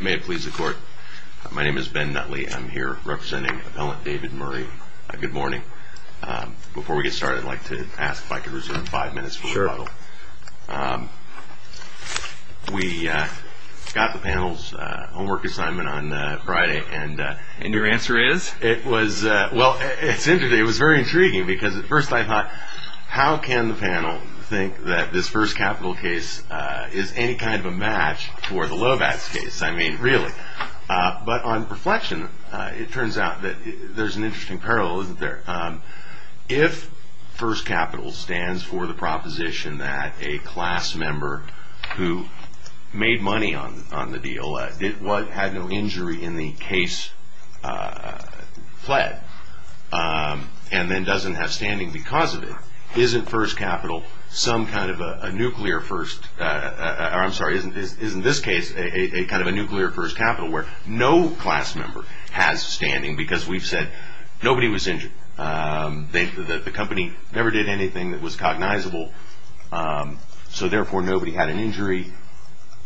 May it please the court. My name is Ben Nutley. I'm here representing Appellant David Murray. Good morning. Before we get started, I'd like to ask if I could reserve five minutes for rebuttal. Sure. We got the panel's homework assignment on Friday. And your answer is? Well, it was very intriguing because at first I thought, how can the panel think that this First Capital case is any kind of a match for the Lovatz case? I mean, really. But on reflection, it turns out that there's an interesting parallel, isn't there? If First Capital stands for the proposition that a class member who made money on the deal, had no injury in the case, fled, and then doesn't have standing because of it, isn't this case a kind of a nuclear First Capital where no class member has standing because we've said nobody was injured? The company never did anything that was cognizable, so therefore nobody had an injury?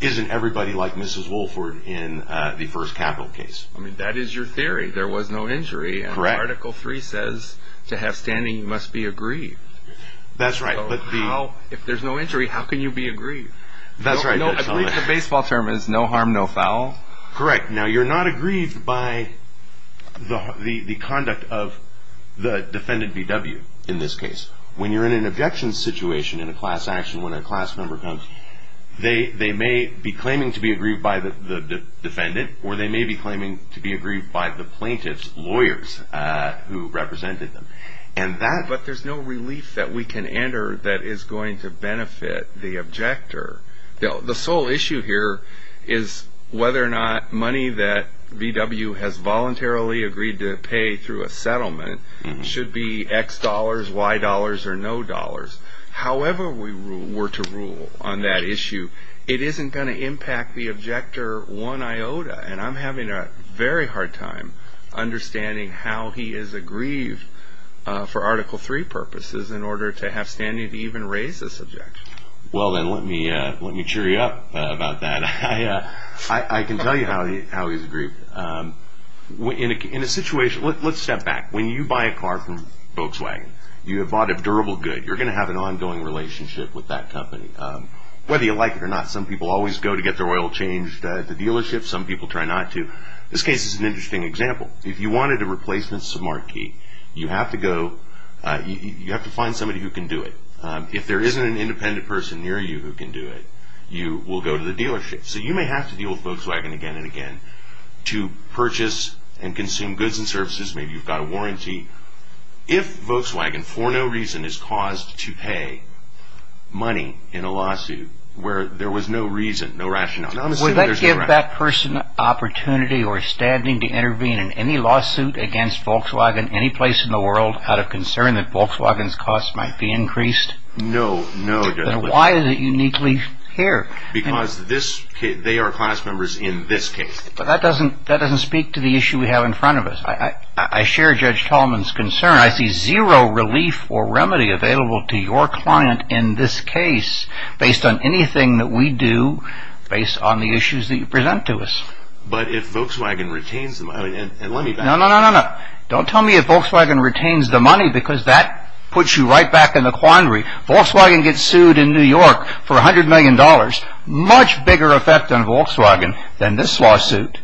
Isn't everybody like Mrs. Woolford in the First Capital case? That is your theory. There was no injury. Correct. Article 3 says to have standing, you must be aggrieved. That's right. If there's no injury, how can you be aggrieved? That's right. I believe the baseball term is no harm, no foul? Correct. Now, you're not aggrieved by the conduct of the defendant, B.W., in this case. When you're in an objection situation in a class action, when a class member comes, they may be claiming to be aggrieved by the defendant, or they may be claiming to be aggrieved by the plaintiff's lawyers who represented them. But there's no relief that we can enter that is going to benefit the objector. The sole issue here is whether or not money that B.W. has voluntarily agreed to pay through a settlement should be X dollars, Y dollars, or no dollars. However we were to rule on that issue, it isn't going to impact the objector one iota. And I'm having a very hard time understanding how he is aggrieved for Article 3 purposes in order to have standing to even raise this objection. Well, then, let me cheer you up about that. I can tell you how he's aggrieved. In a situation, let's step back. When you buy a car from Volkswagen, you have bought a durable good. You're going to have an ongoing relationship with that company. Whether you like it or not, some people always go to get their oil changed at the dealership. Some people try not to. This case is an interesting example. If you wanted a replacement sub-marquee, you have to find somebody who can do it. If there isn't an independent person near you who can do it, you will go to the dealership. So you may have to deal with Volkswagen again and again to purchase and consume goods and services. Maybe you've got a warranty. If Volkswagen for no reason is caused to pay money in a lawsuit where there was no reason, no rationale. Would that give that person opportunity or standing to intervene in any lawsuit against Volkswagen any place in the world out of concern that Volkswagen's costs might be increased? No. Then why is it uniquely here? Because they are class members in this case. But that doesn't speak to the issue we have in front of us. I share Judge Tallman's concern. I see zero relief or remedy available to your client in this case based on anything that we do based on the issues that you present to us. But if Volkswagen retains the money, and let me back up. No, no, no, no, no. Don't tell me if Volkswagen retains the money because that puts you right back in the quandary. Volkswagen gets sued in New York for $100 million. Much bigger effect on Volkswagen than this lawsuit.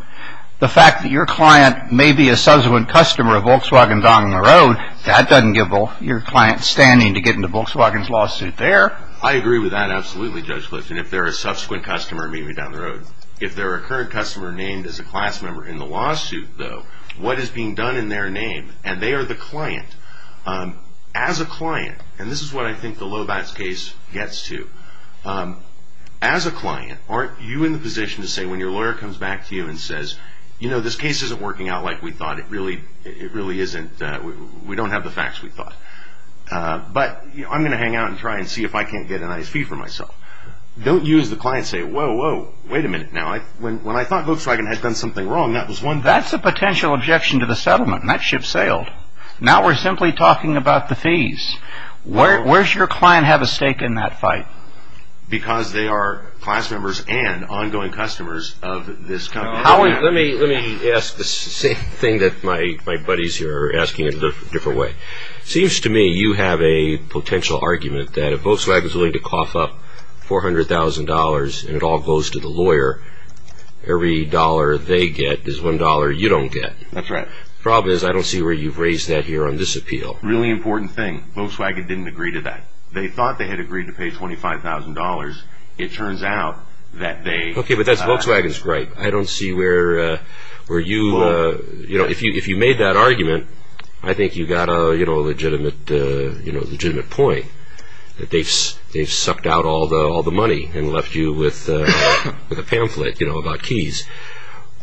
The fact that your client may be a subsequent customer of Volkswagen down the road, that doesn't give your client standing to get into Volkswagen's lawsuit there. I agree with that absolutely, Judge Clifton. If they're a subsequent customer, maybe down the road. If they're a current customer named as a class member in the lawsuit, though, what is being done in their name? And they are the client. As a client, and this is what I think the Lobatz case gets to, as a client, aren't you in the position to say when your lawyer comes back to you and says, you know, this case isn't working out like we thought. It really isn't. We don't have the facts we thought. But I'm going to hang out and try and see if I can't get a nice fee for myself. Don't you as the client say, whoa, whoa, wait a minute now. When I thought Volkswagen had done something wrong, that was one thing. That's a potential objection to the settlement, and that ship sailed. Now we're simply talking about the fees. Where does your client have a stake in that fight? Because they are class members and ongoing customers of this company. Howard, let me ask the same thing that my buddies here are asking in a different way. It seems to me you have a potential argument that if Volkswagen is willing to cough up $400,000 and it all goes to the lawyer, every dollar they get is one dollar you don't get. That's right. The problem is I don't see where you've raised that here on this appeal. Really important thing. Volkswagen didn't agree to that. They thought they had agreed to pay $25,000. It turns out that they have not. Okay, but that's Volkswagen's gripe. I don't see where you, you know, if you made that argument, I think you got a legitimate point that they've sucked out all the money and left you with a pamphlet, you know, about keys.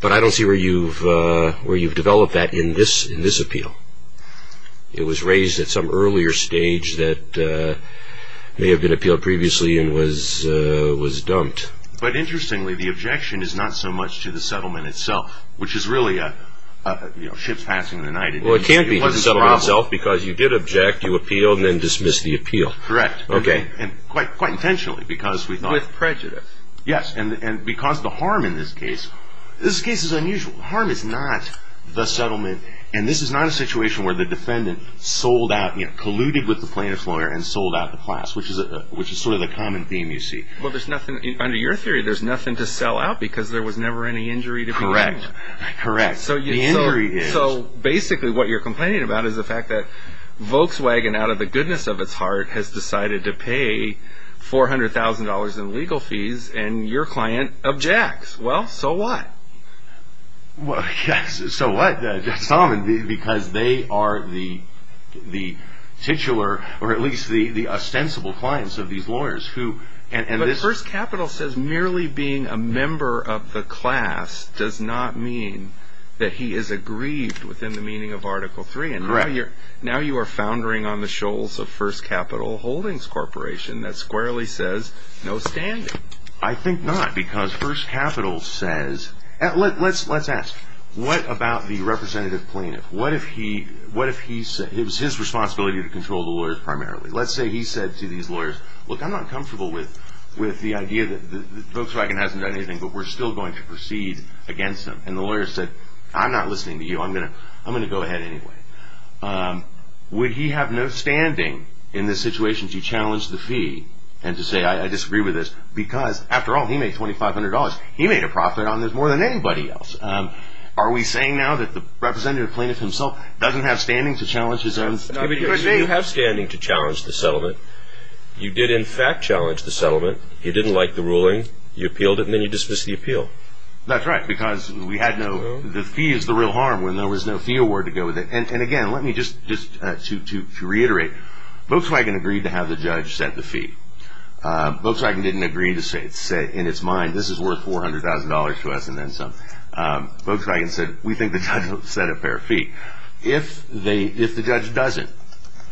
But I don't see where you've developed that in this appeal. It was raised at some earlier stage that may have been appealed previously and was dumped. But interestingly, the objection is not so much to the settlement itself, which is really ships passing the night. Well, it can't be the settlement itself because you did object, you appealed, and then dismissed the appeal. Correct. Okay. And quite intentionally because we thought... With prejudice. Yes. And because the harm in this case, this case is unusual. Harm is not the settlement. And this is not a situation where the defendant sold out, you know, colluded with the plaintiff's lawyer and sold out the class, which is sort of the common theme you see. Well, there's nothing, under your theory, there's nothing to sell out because there was never any injury to be made. Correct. Correct. The injury is... So basically what you're complaining about is the fact that Volkswagen, out of the goodness of its heart, has decided to pay $400,000 in legal fees and your client objects. Well, so what? So what? Because they are the titular, or at least the ostensible clients of these lawyers who... But First Capital says merely being a member of the class does not mean that he is aggrieved within the meaning of Article 3. Correct. So now you are foundering on the shoals of First Capital Holdings Corporation that squarely says, no standing. I think not, because First Capital says... Let's ask, what about the representative plaintiff? What if he... It was his responsibility to control the lawyers primarily. Let's say he said to these lawyers, look, I'm not comfortable with the idea that Volkswagen hasn't done anything, but we're still going to proceed against them. And the lawyer said, I'm not listening to you. I'm going to go ahead anyway. Would he have no standing in this situation to challenge the fee and to say, I disagree with this, because after all, he made $2,500. He made a profit on this more than anybody else. Are we saying now that the representative plaintiff himself doesn't have standing to challenge his own... You have standing to challenge the settlement. You did in fact challenge the settlement. You didn't like the ruling. You appealed it and then you dismissed the appeal. That's right, because we had no... The fee is the real harm when there was no fee award to go with it. And again, let me just, to reiterate, Volkswagen agreed to have the judge set the fee. Volkswagen didn't agree to say in its mind, this is worth $400,000 to us and then some. Volkswagen said, we think the judge will set a fair fee. If the judge doesn't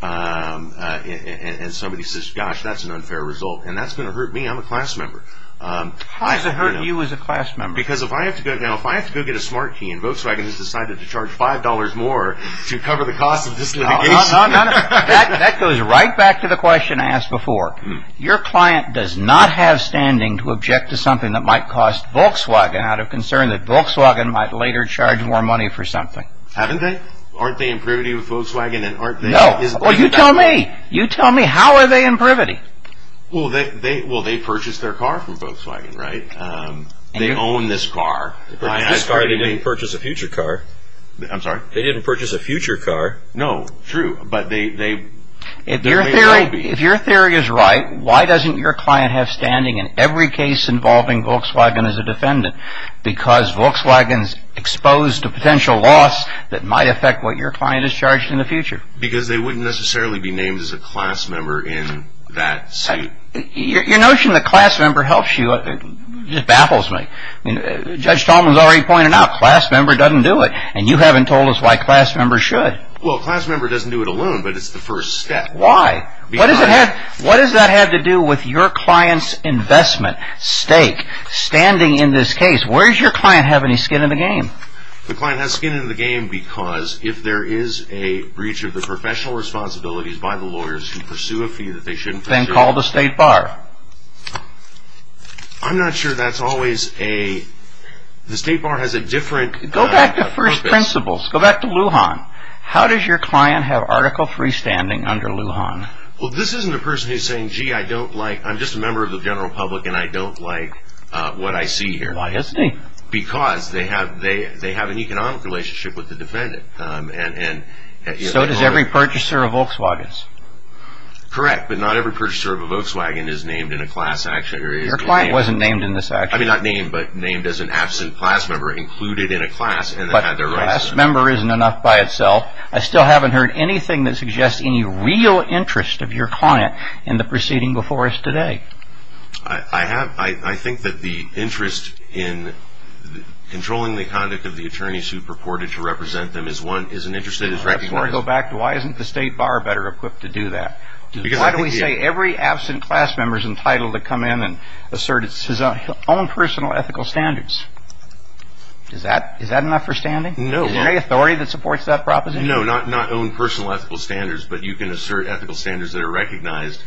and somebody says, gosh, that's an unfair result, and that's going to hurt me, I'm a class member. Why does it hurt you as a class member? Because if I have to go get a smart key and Volkswagen has decided to charge $5 more to cover the cost of this litigation... That goes right back to the question I asked before. Your client does not have standing to object to something that might cost Volkswagen out of concern that Volkswagen might later charge more money for something. Haven't they? Aren't they in privity with Volkswagen? No. You tell me. You tell me. How are they in privity? Well, they purchased their car from Volkswagen, right? They own this car. This car they didn't purchase a future car. I'm sorry? They didn't purchase a future car. No, true, but they... If your theory is right, why doesn't your client have standing in every case involving Volkswagen as a defendant? Because Volkswagen's exposed to potential loss that might affect what your client is charged in the future. Because they wouldn't necessarily be named as a class member in that suit. Your notion that class member helps you just baffles me. Judge Tolman's already pointed out, class member doesn't do it. And you haven't told us why class member should. Well, class member doesn't do it alone, but it's the first step. Why? What does that have to do with your client's investment, stake, standing in this case? Where does your client have any skin in the game? The client has skin in the game because if there is a breach of the professional responsibilities by the lawyers who pursue a fee that they shouldn't pursue... Then call the state bar. I'm not sure that's always a... The state bar has a different purpose. Go back to first principles. Go back to Lujan. How does your client have Article III standing under Lujan? Well, this isn't a person who's saying, gee, I'm just a member of the general public and I don't like what I see here. Why isn't he? Because they have an economic relationship with the defendant. So does every purchaser of Volkswagens. Correct, but not every purchaser of a Volkswagen is named in a class action. Your client wasn't named in this action. I mean, not named, but named as an absent class member included in a class. But class member isn't enough by itself. I still haven't heard anything that suggests any real interest of your client in the proceeding before us today. I think that the interest in controlling the conduct of the attorneys who purported to represent them is an interest that is recognized. Before I go back, why isn't the state bar better equipped to do that? Why do we say every absent class member is entitled to come in and assert his own personal ethical standards? Is that enough for standing? No. Is there any authority that supports that proposition? No, not own personal ethical standards, but you can assert ethical standards that are recognized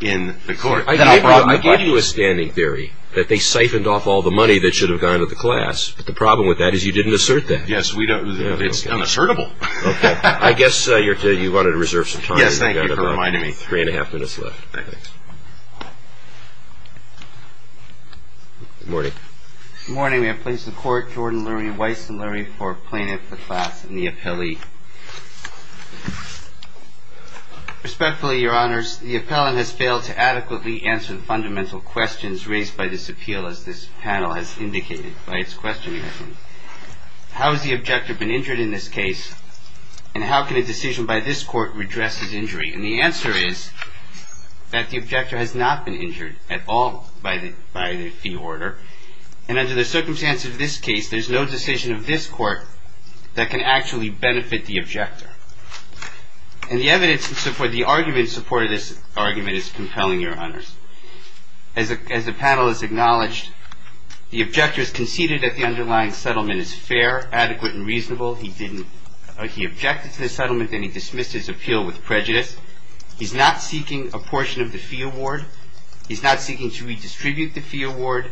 in the court. I gave you a standing theory that they siphoned off all the money that should have gone to the class. But the problem with that is you didn't assert that. Yes, it's unassertable. Okay. I guess you wanted to reserve some time. Yes, thank you for reminding me. Three and a half minutes left. Thanks. Good morning. Good morning. We have placed in court Jordan Lurie, Weiss and Lurie for plaintiff, the class, and the appellee. Respectfully, Your Honors, the appellant has failed to adequately answer the fundamental questions raised by this appeal, as this panel has indicated by its questioning. How has the objector been injured in this case, and how can a decision by this court redress his injury? And the answer is that the objector has not been injured at all by the order. And under the circumstance of this case, there's no decision of this court that can actually benefit the objector. And the evidence for the argument supported in this argument is compelling, Your Honors. As the panel has acknowledged, the objector has conceded that the underlying settlement is fair, adequate, and reasonable. He objected to the settlement, and he dismissed his appeal with prejudice. He's not seeking a portion of the fee award. He's not seeking to redistribute the fee award.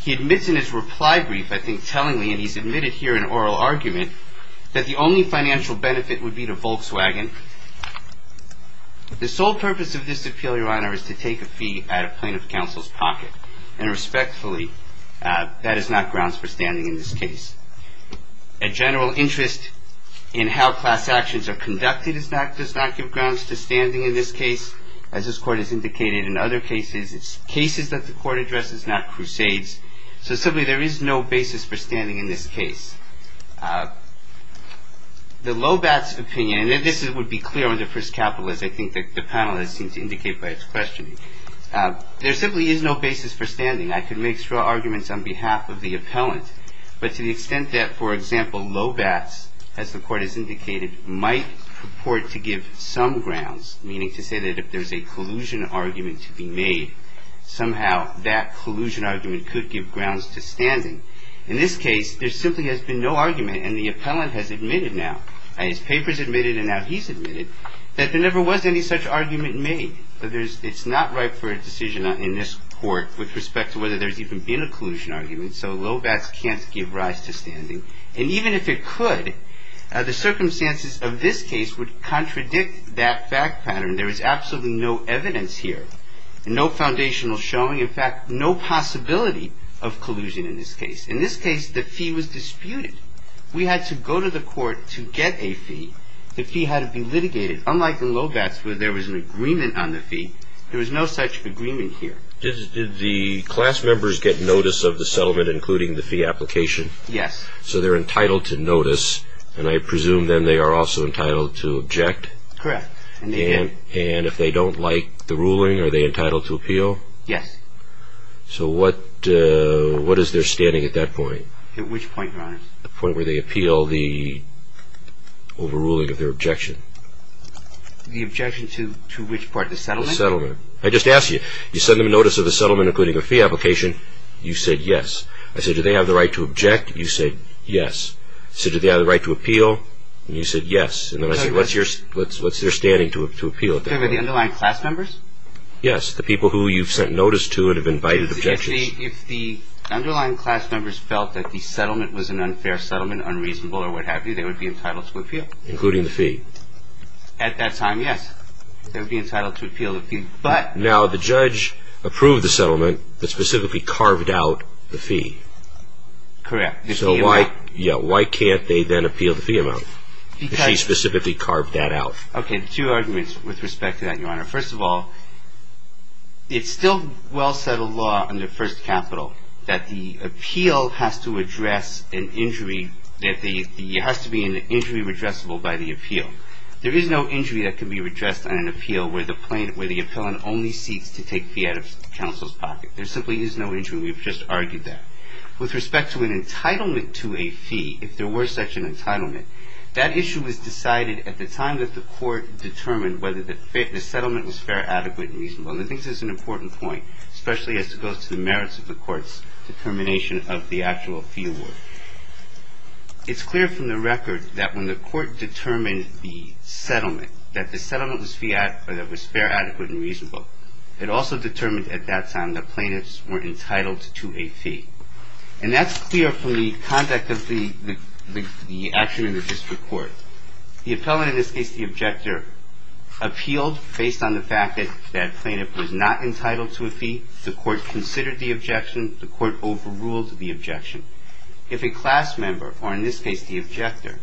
He admits in his reply brief, I think tellingly, and he's admitted here in oral argument, that the only financial benefit would be to Volkswagen. The sole purpose of this appeal, Your Honor, is to take a fee out of plaintiff counsel's pocket. And respectfully, that is not grounds for standing in this case. A general interest in how class actions are conducted does not give grounds to standing in this case. As this court has indicated in other cases, it's cases that the court addresses, not crusades. So simply, there is no basis for standing in this case. The Lobatz opinion, and this would be clear on the first capital, as I think the panel has seemed to indicate by its question. There simply is no basis for standing. I could make strong arguments on behalf of the appellant. But to the extent that, for example, Lobatz, as the court has indicated, might purport to give some grounds, meaning to say that if there's a collusion argument to be made, somehow that collusion argument could give grounds to standing. In this case, there simply has been no argument, and the appellant has admitted now, his papers admitted and now he's admitted, that there never was any such argument made. It's not right for a decision in this court with respect to whether there's even been a collusion argument. And even if it could, the circumstances of this case would contradict that fact pattern. There is absolutely no evidence here. No foundational showing. In fact, no possibility of collusion in this case. In this case, the fee was disputed. We had to go to the court to get a fee. The fee had to be litigated. Unlike in Lobatz, where there was an agreement on the fee, there was no such agreement here. Did the class members get notice of the settlement, including the fee application? Yes. So they're entitled to notice, and I presume then they are also entitled to object? Correct. And if they don't like the ruling, are they entitled to appeal? Yes. So what is their standing at that point? At which point, Your Honor? The point where they appeal the overruling of their objection. The objection to which part, the settlement? The settlement. I just asked you. You send them notice of the settlement, including the fee application. You said yes. I said, do they have the right to object? You said yes. I said, do they have the right to appeal? And you said yes. And then I said, what's their standing to appeal at that point? The underlying class members? Yes. The people who you've sent notice to and have invited objections. If the underlying class members felt that the settlement was an unfair settlement, unreasonable or what have you, they would be entitled to appeal? Including the fee. At that time, yes. They would be entitled to appeal the fee. Now, the judge approved the settlement, but specifically carved out the fee. Correct. The fee amount. So why can't they then appeal the fee amount? She specifically carved that out. Okay. Two arguments with respect to that, Your Honor. First of all, it's still well-settled law under First Capital that the appeal has to be an injury redressable by the appeal. There is no injury that can be redressed on an appeal where the appellant only seeks to take fee out of counsel's pocket. There simply is no injury. We've just argued that. With respect to an entitlement to a fee, if there were such an entitlement, that issue was decided at the time that the court determined whether the settlement was fair, adequate and reasonable. And I think this is an important point, especially as it goes to the merits of the court's determination of the actual fee award. It's clear from the record that when the court determined the settlement, that the settlement was fair, adequate and reasonable, it also determined at that time that plaintiffs were entitled to a fee. And that's clear from the conduct of the action in the district court. The appellant, in this case the objector, appealed based on the fact that that plaintiff was not entitled to a fee. The court considered the objection. The court overruled the objection. If a class member, or in this case the objector,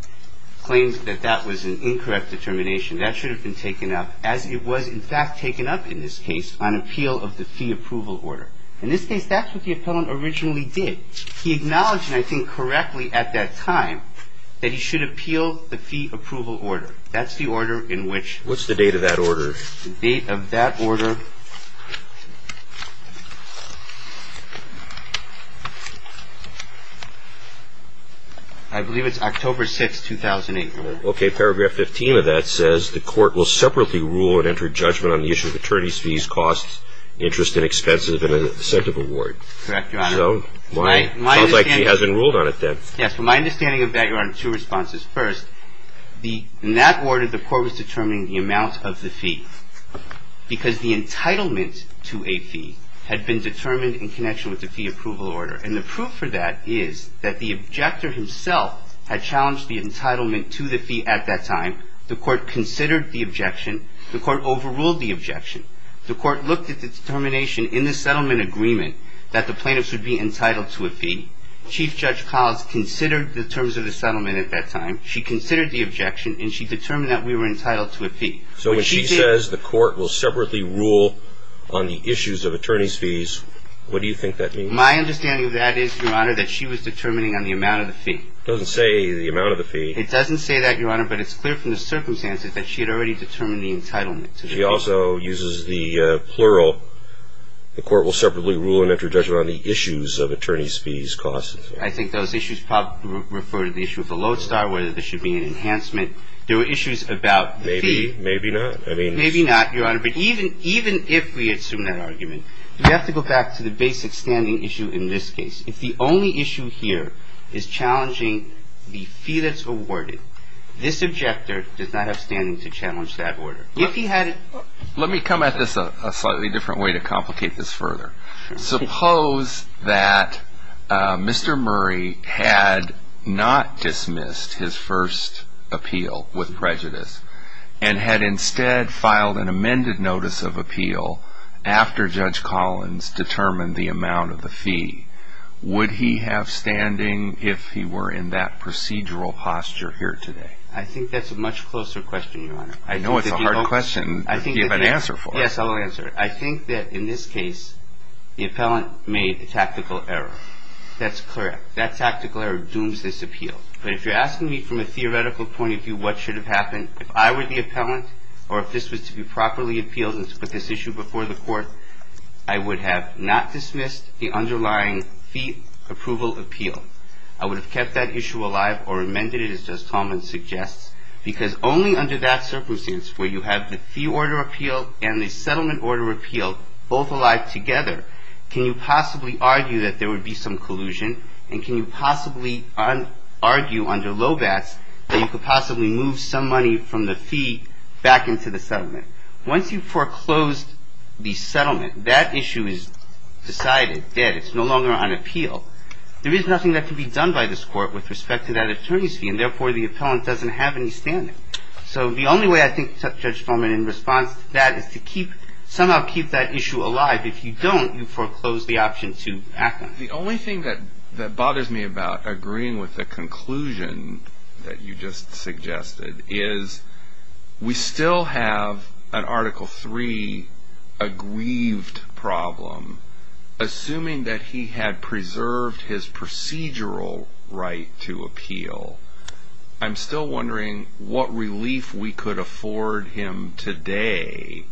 claims that that was an incorrect determination, that should have been taken up, as it was in fact taken up in this case, on appeal of the fee approval order. In this case, that's what the appellant originally did. He acknowledged, and I think correctly at that time, that he should appeal the fee approval order. That's the order in which... What's the date of that order? I believe it's October 6, 2008. Okay. Paragraph 15 of that says, The court will separately rule and enter judgment on the issue of attorney's fees, costs, interest, inexpensive and incentive award. Correct, Your Honor. Sounds like he hasn't ruled on it then. Yes. From my understanding of that, Your Honor, two responses. First, in that order, the court was determining the amount of the fee. Because the entitlement to a fee had been determined in connection with the fee approval order. And the proof for that is that the objector himself had challenged the entitlement to the fee at that time. The court considered the objection. The court overruled the objection. The court looked at the determination in the settlement agreement that the plaintiff should be entitled to a fee. Chief Judge Collins considered the terms of the settlement at that time. She considered the objection, and she determined that we were entitled to a fee. So when she says the court will separately rule on the issues of attorney's fees, what do you think that means? My understanding of that is, Your Honor, that she was determining on the amount of the fee. It doesn't say the amount of the fee. It doesn't say that, Your Honor, but it's clear from the circumstances that she had already determined the entitlement to the fee. She also uses the plural. The court will separately rule and enter judgment on the issues of attorney's fees, costs. I think those issues probably refer to the issue of the lodestar, whether there should be an enhancement. There were issues about the fee. Maybe not. Maybe not, Your Honor, but even if we assume that argument, we have to go back to the basic standing issue in this case. If the only issue here is challenging the fee that's awarded, this objector does not have standing to challenge that order. Let me come at this a slightly different way to complicate this further. Suppose that Mr. Murray had not dismissed his first appeal with prejudice and had instead filed an amended notice of appeal after Judge Collins determined the amount of the fee. Would he have standing if he were in that procedural posture here today? I think that's a much closer question, Your Honor. I know it's a hard question to give an answer for. Yes, I will answer it. I think that in this case, the appellant made a tactical error. That's correct. That tactical error dooms this appeal. But if you're asking me from a theoretical point of view what should have happened, if I were the appellant or if this was to be properly appealed and to put this issue before the court, I would have not dismissed the underlying fee approval appeal. I would have kept that issue alive or amended it, as Judge Coleman suggests, because only under that circumstance, where you have the fee order appeal and the settlement order appeal both alive together, can you possibly argue that there would be some collusion? And can you possibly argue under Lobatz that you could possibly move some money from the fee back into the settlement? Once you foreclosed the settlement, that issue is decided, dead. It's no longer on appeal. There is nothing that can be done by this court with respect to that attorney's fee, and therefore, the appellant doesn't have any standing. So the only way I think, Judge Coleman, in response to that is to somehow keep that issue alive. If you don't, you foreclose the option to act on it. The only thing that bothers me about agreeing with the conclusion that you just suggested is we still have an Article III aggrieved problem. Assuming that he had preserved his procedural right to appeal, I'm still wondering what relief we could afford him today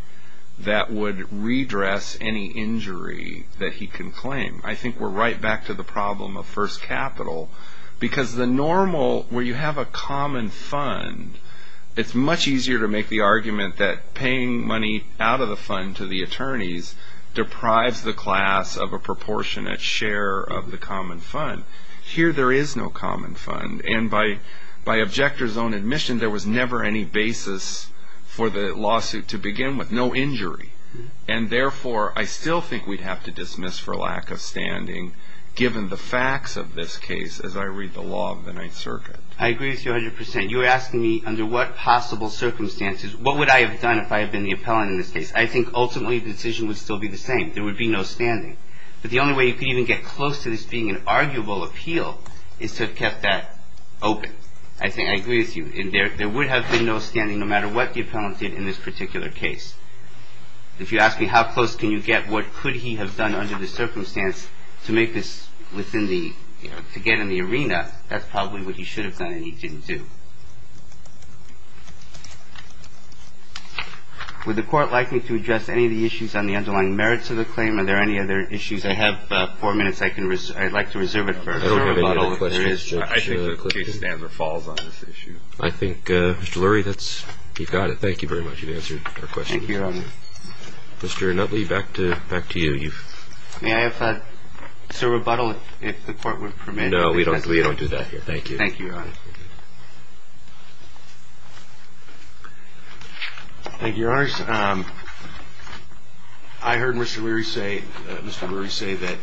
that would redress any injury that he can claim. I think we're right back to the problem of first capital. Because the normal, where you have a common fund, it's much easier to make the argument that paying money out of the fund to the attorneys deprives the class of a proportionate share of the common fund. Here, there is no common fund. And by objector's own admission, there was never any basis for the lawsuit to begin with, no injury. And therefore, I still think we'd have to dismiss for lack of standing, given the facts of this case, as I read the law of the Ninth Circuit. I agree with you 100%. You're asking me, under what possible circumstances, what would I have done if I had been the appellant in this case? I think, ultimately, the decision would still be the same. There would be no standing. But the only way you could even get close to this being an arguable appeal is to have kept that open. I agree with you. And there would have been no standing, no matter what the appellant did in this particular case. If you ask me, how close can you get, what could he have done under the circumstance to make this within the, to get in the arena, that's probably what he should have done and he didn't do. Would the Court like me to address any of the issues on the underlying merits of the claim? Are there any other issues? I have four minutes. I'd like to reserve it for a moment. I think the case stands or falls on this issue. I think, Mr. Lurie, that's, you've got it. Thank you very much. You've answered our question. Thank you, Your Honor. Mr. Nutley, back to you. May I have to rebuttal if the Court would permit? No, we don't do that here. Thank you. Thank you, Your Honor. Thank you, Your Honors. I heard Mr. Lurie say that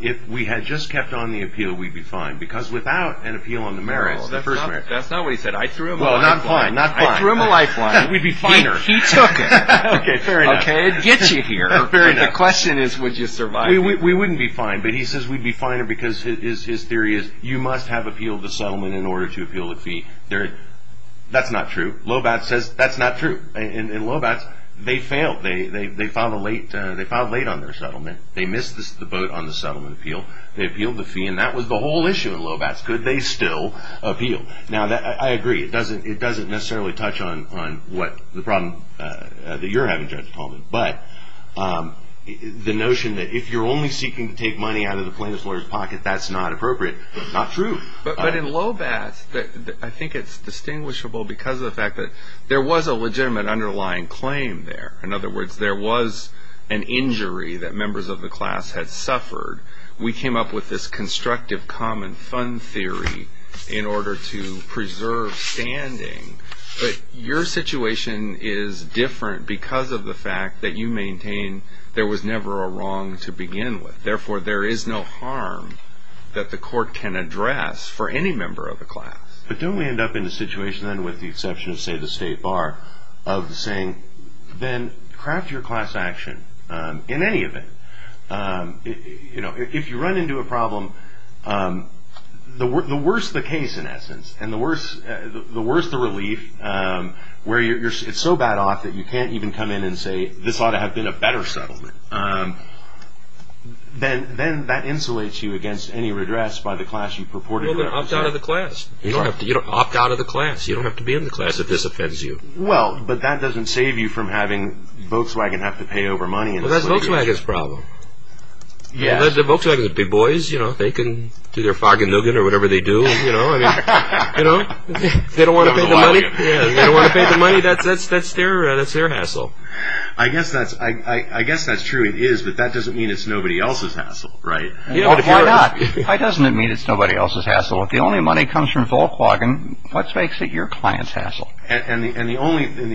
if we had just kept on the appeal, we'd be fine because without an appeal on the merits, the first merits. That's not what he said. I threw him a lifeline. Well, not fine, not fine. I threw him a lifeline. We'd be finer. He took it. Okay, fair enough. Okay, it gets you here. Fair enough. The question is, would you survive? We wouldn't be fine, but he says we'd be finer because his theory is you must have appealed the settlement in order to appeal the fee. That's not true. Lobatz says that's not true. And Lobatz, they failed. They filed late on their settlement. They missed the boat on the settlement appeal. They appealed the fee, and that was the whole issue in Lobatz. Could they still appeal? Now, I agree. It doesn't necessarily touch on the problem that you're having, Judge Tallman. But the notion that if you're only seeking to take money out of the plaintiff's lawyer's pocket, that's not appropriate. That's not true. But in Lobatz, I think it's distinguishable because of the fact that there was a legitimate underlying claim there. In other words, there was an injury that members of the class had suffered. We came up with this constructive common fund theory in order to preserve standing. But your situation is different because of the fact that you maintain there was never a wrong to begin with. Therefore, there is no harm that the court can address for any member of the class. But don't we end up in a situation then with the exception of, say, the state bar of saying, then craft your class action in any event. If you run into a problem, the worse the case, in essence, and the worse the relief, where it's so bad off that you can't even come in and say, this ought to have been a better settlement, then that insulates you against any redress by the class you purported to be. Well, then opt out of the class. You don't have to opt out of the class. You don't have to be in the class if this offends you. Well, but that doesn't save you from having Volkswagen have to pay over money. Well, that's Volkswagen's problem. Volkswagen's big boys. They can do their Fargan Nugent or whatever they do. They don't want to pay the money. They don't want to pay the money. That's their hassle. I guess that's true. It is, but that doesn't mean it's nobody else's hassle, right? Why not? Why doesn't it mean it's nobody else's hassle? If the only money comes from Volkswagen, what makes it your client's hassle? And the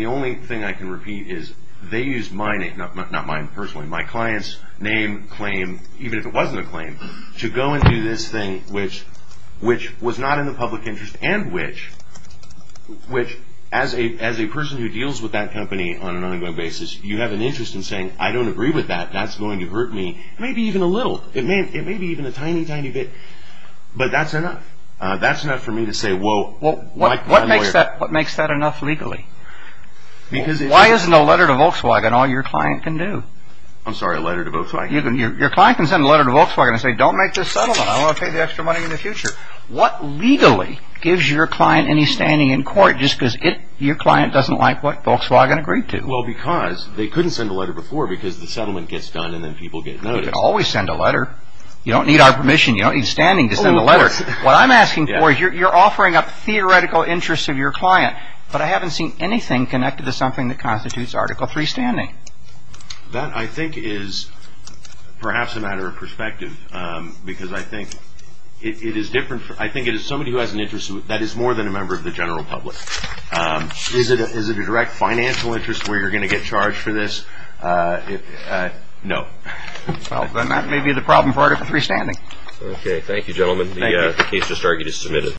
only thing I can repeat is they used my name, not mine personally, my client's name, claim, even if it wasn't a claim, to go and do this thing which was not in the public interest and which, as a person who deals with that company on an ongoing basis, you have an interest in saying, I don't agree with that. That's going to hurt me, maybe even a little. It may be even a tiny, tiny bit, but that's enough. That's enough for me to say, whoa, like my lawyer. What makes that enough legally? Why isn't a letter to Volkswagen all your client can do? I'm sorry, a letter to Volkswagen? Your client can send a letter to Volkswagen and say, don't make this settlement. I want to pay the extra money in the future. What legally gives your client any standing in court just because your client doesn't like what Volkswagen agreed to? Well, because they couldn't send a letter before because the settlement gets done and then people get noticed. You can always send a letter. You don't need our permission. You don't need standing to send a letter. Sir, what I'm asking for is you're offering up theoretical interests of your client, but I haven't seen anything connected to something that constitutes Article III standing. That, I think, is perhaps a matter of perspective because I think it is different. I think it is somebody who has an interest that is more than a member of the general public. Is it a direct financial interest where you're going to get charged for this? No. Well, then that may be the problem for Article III standing. Okay. Thank you, gentlemen. Thank you. The case is submitted.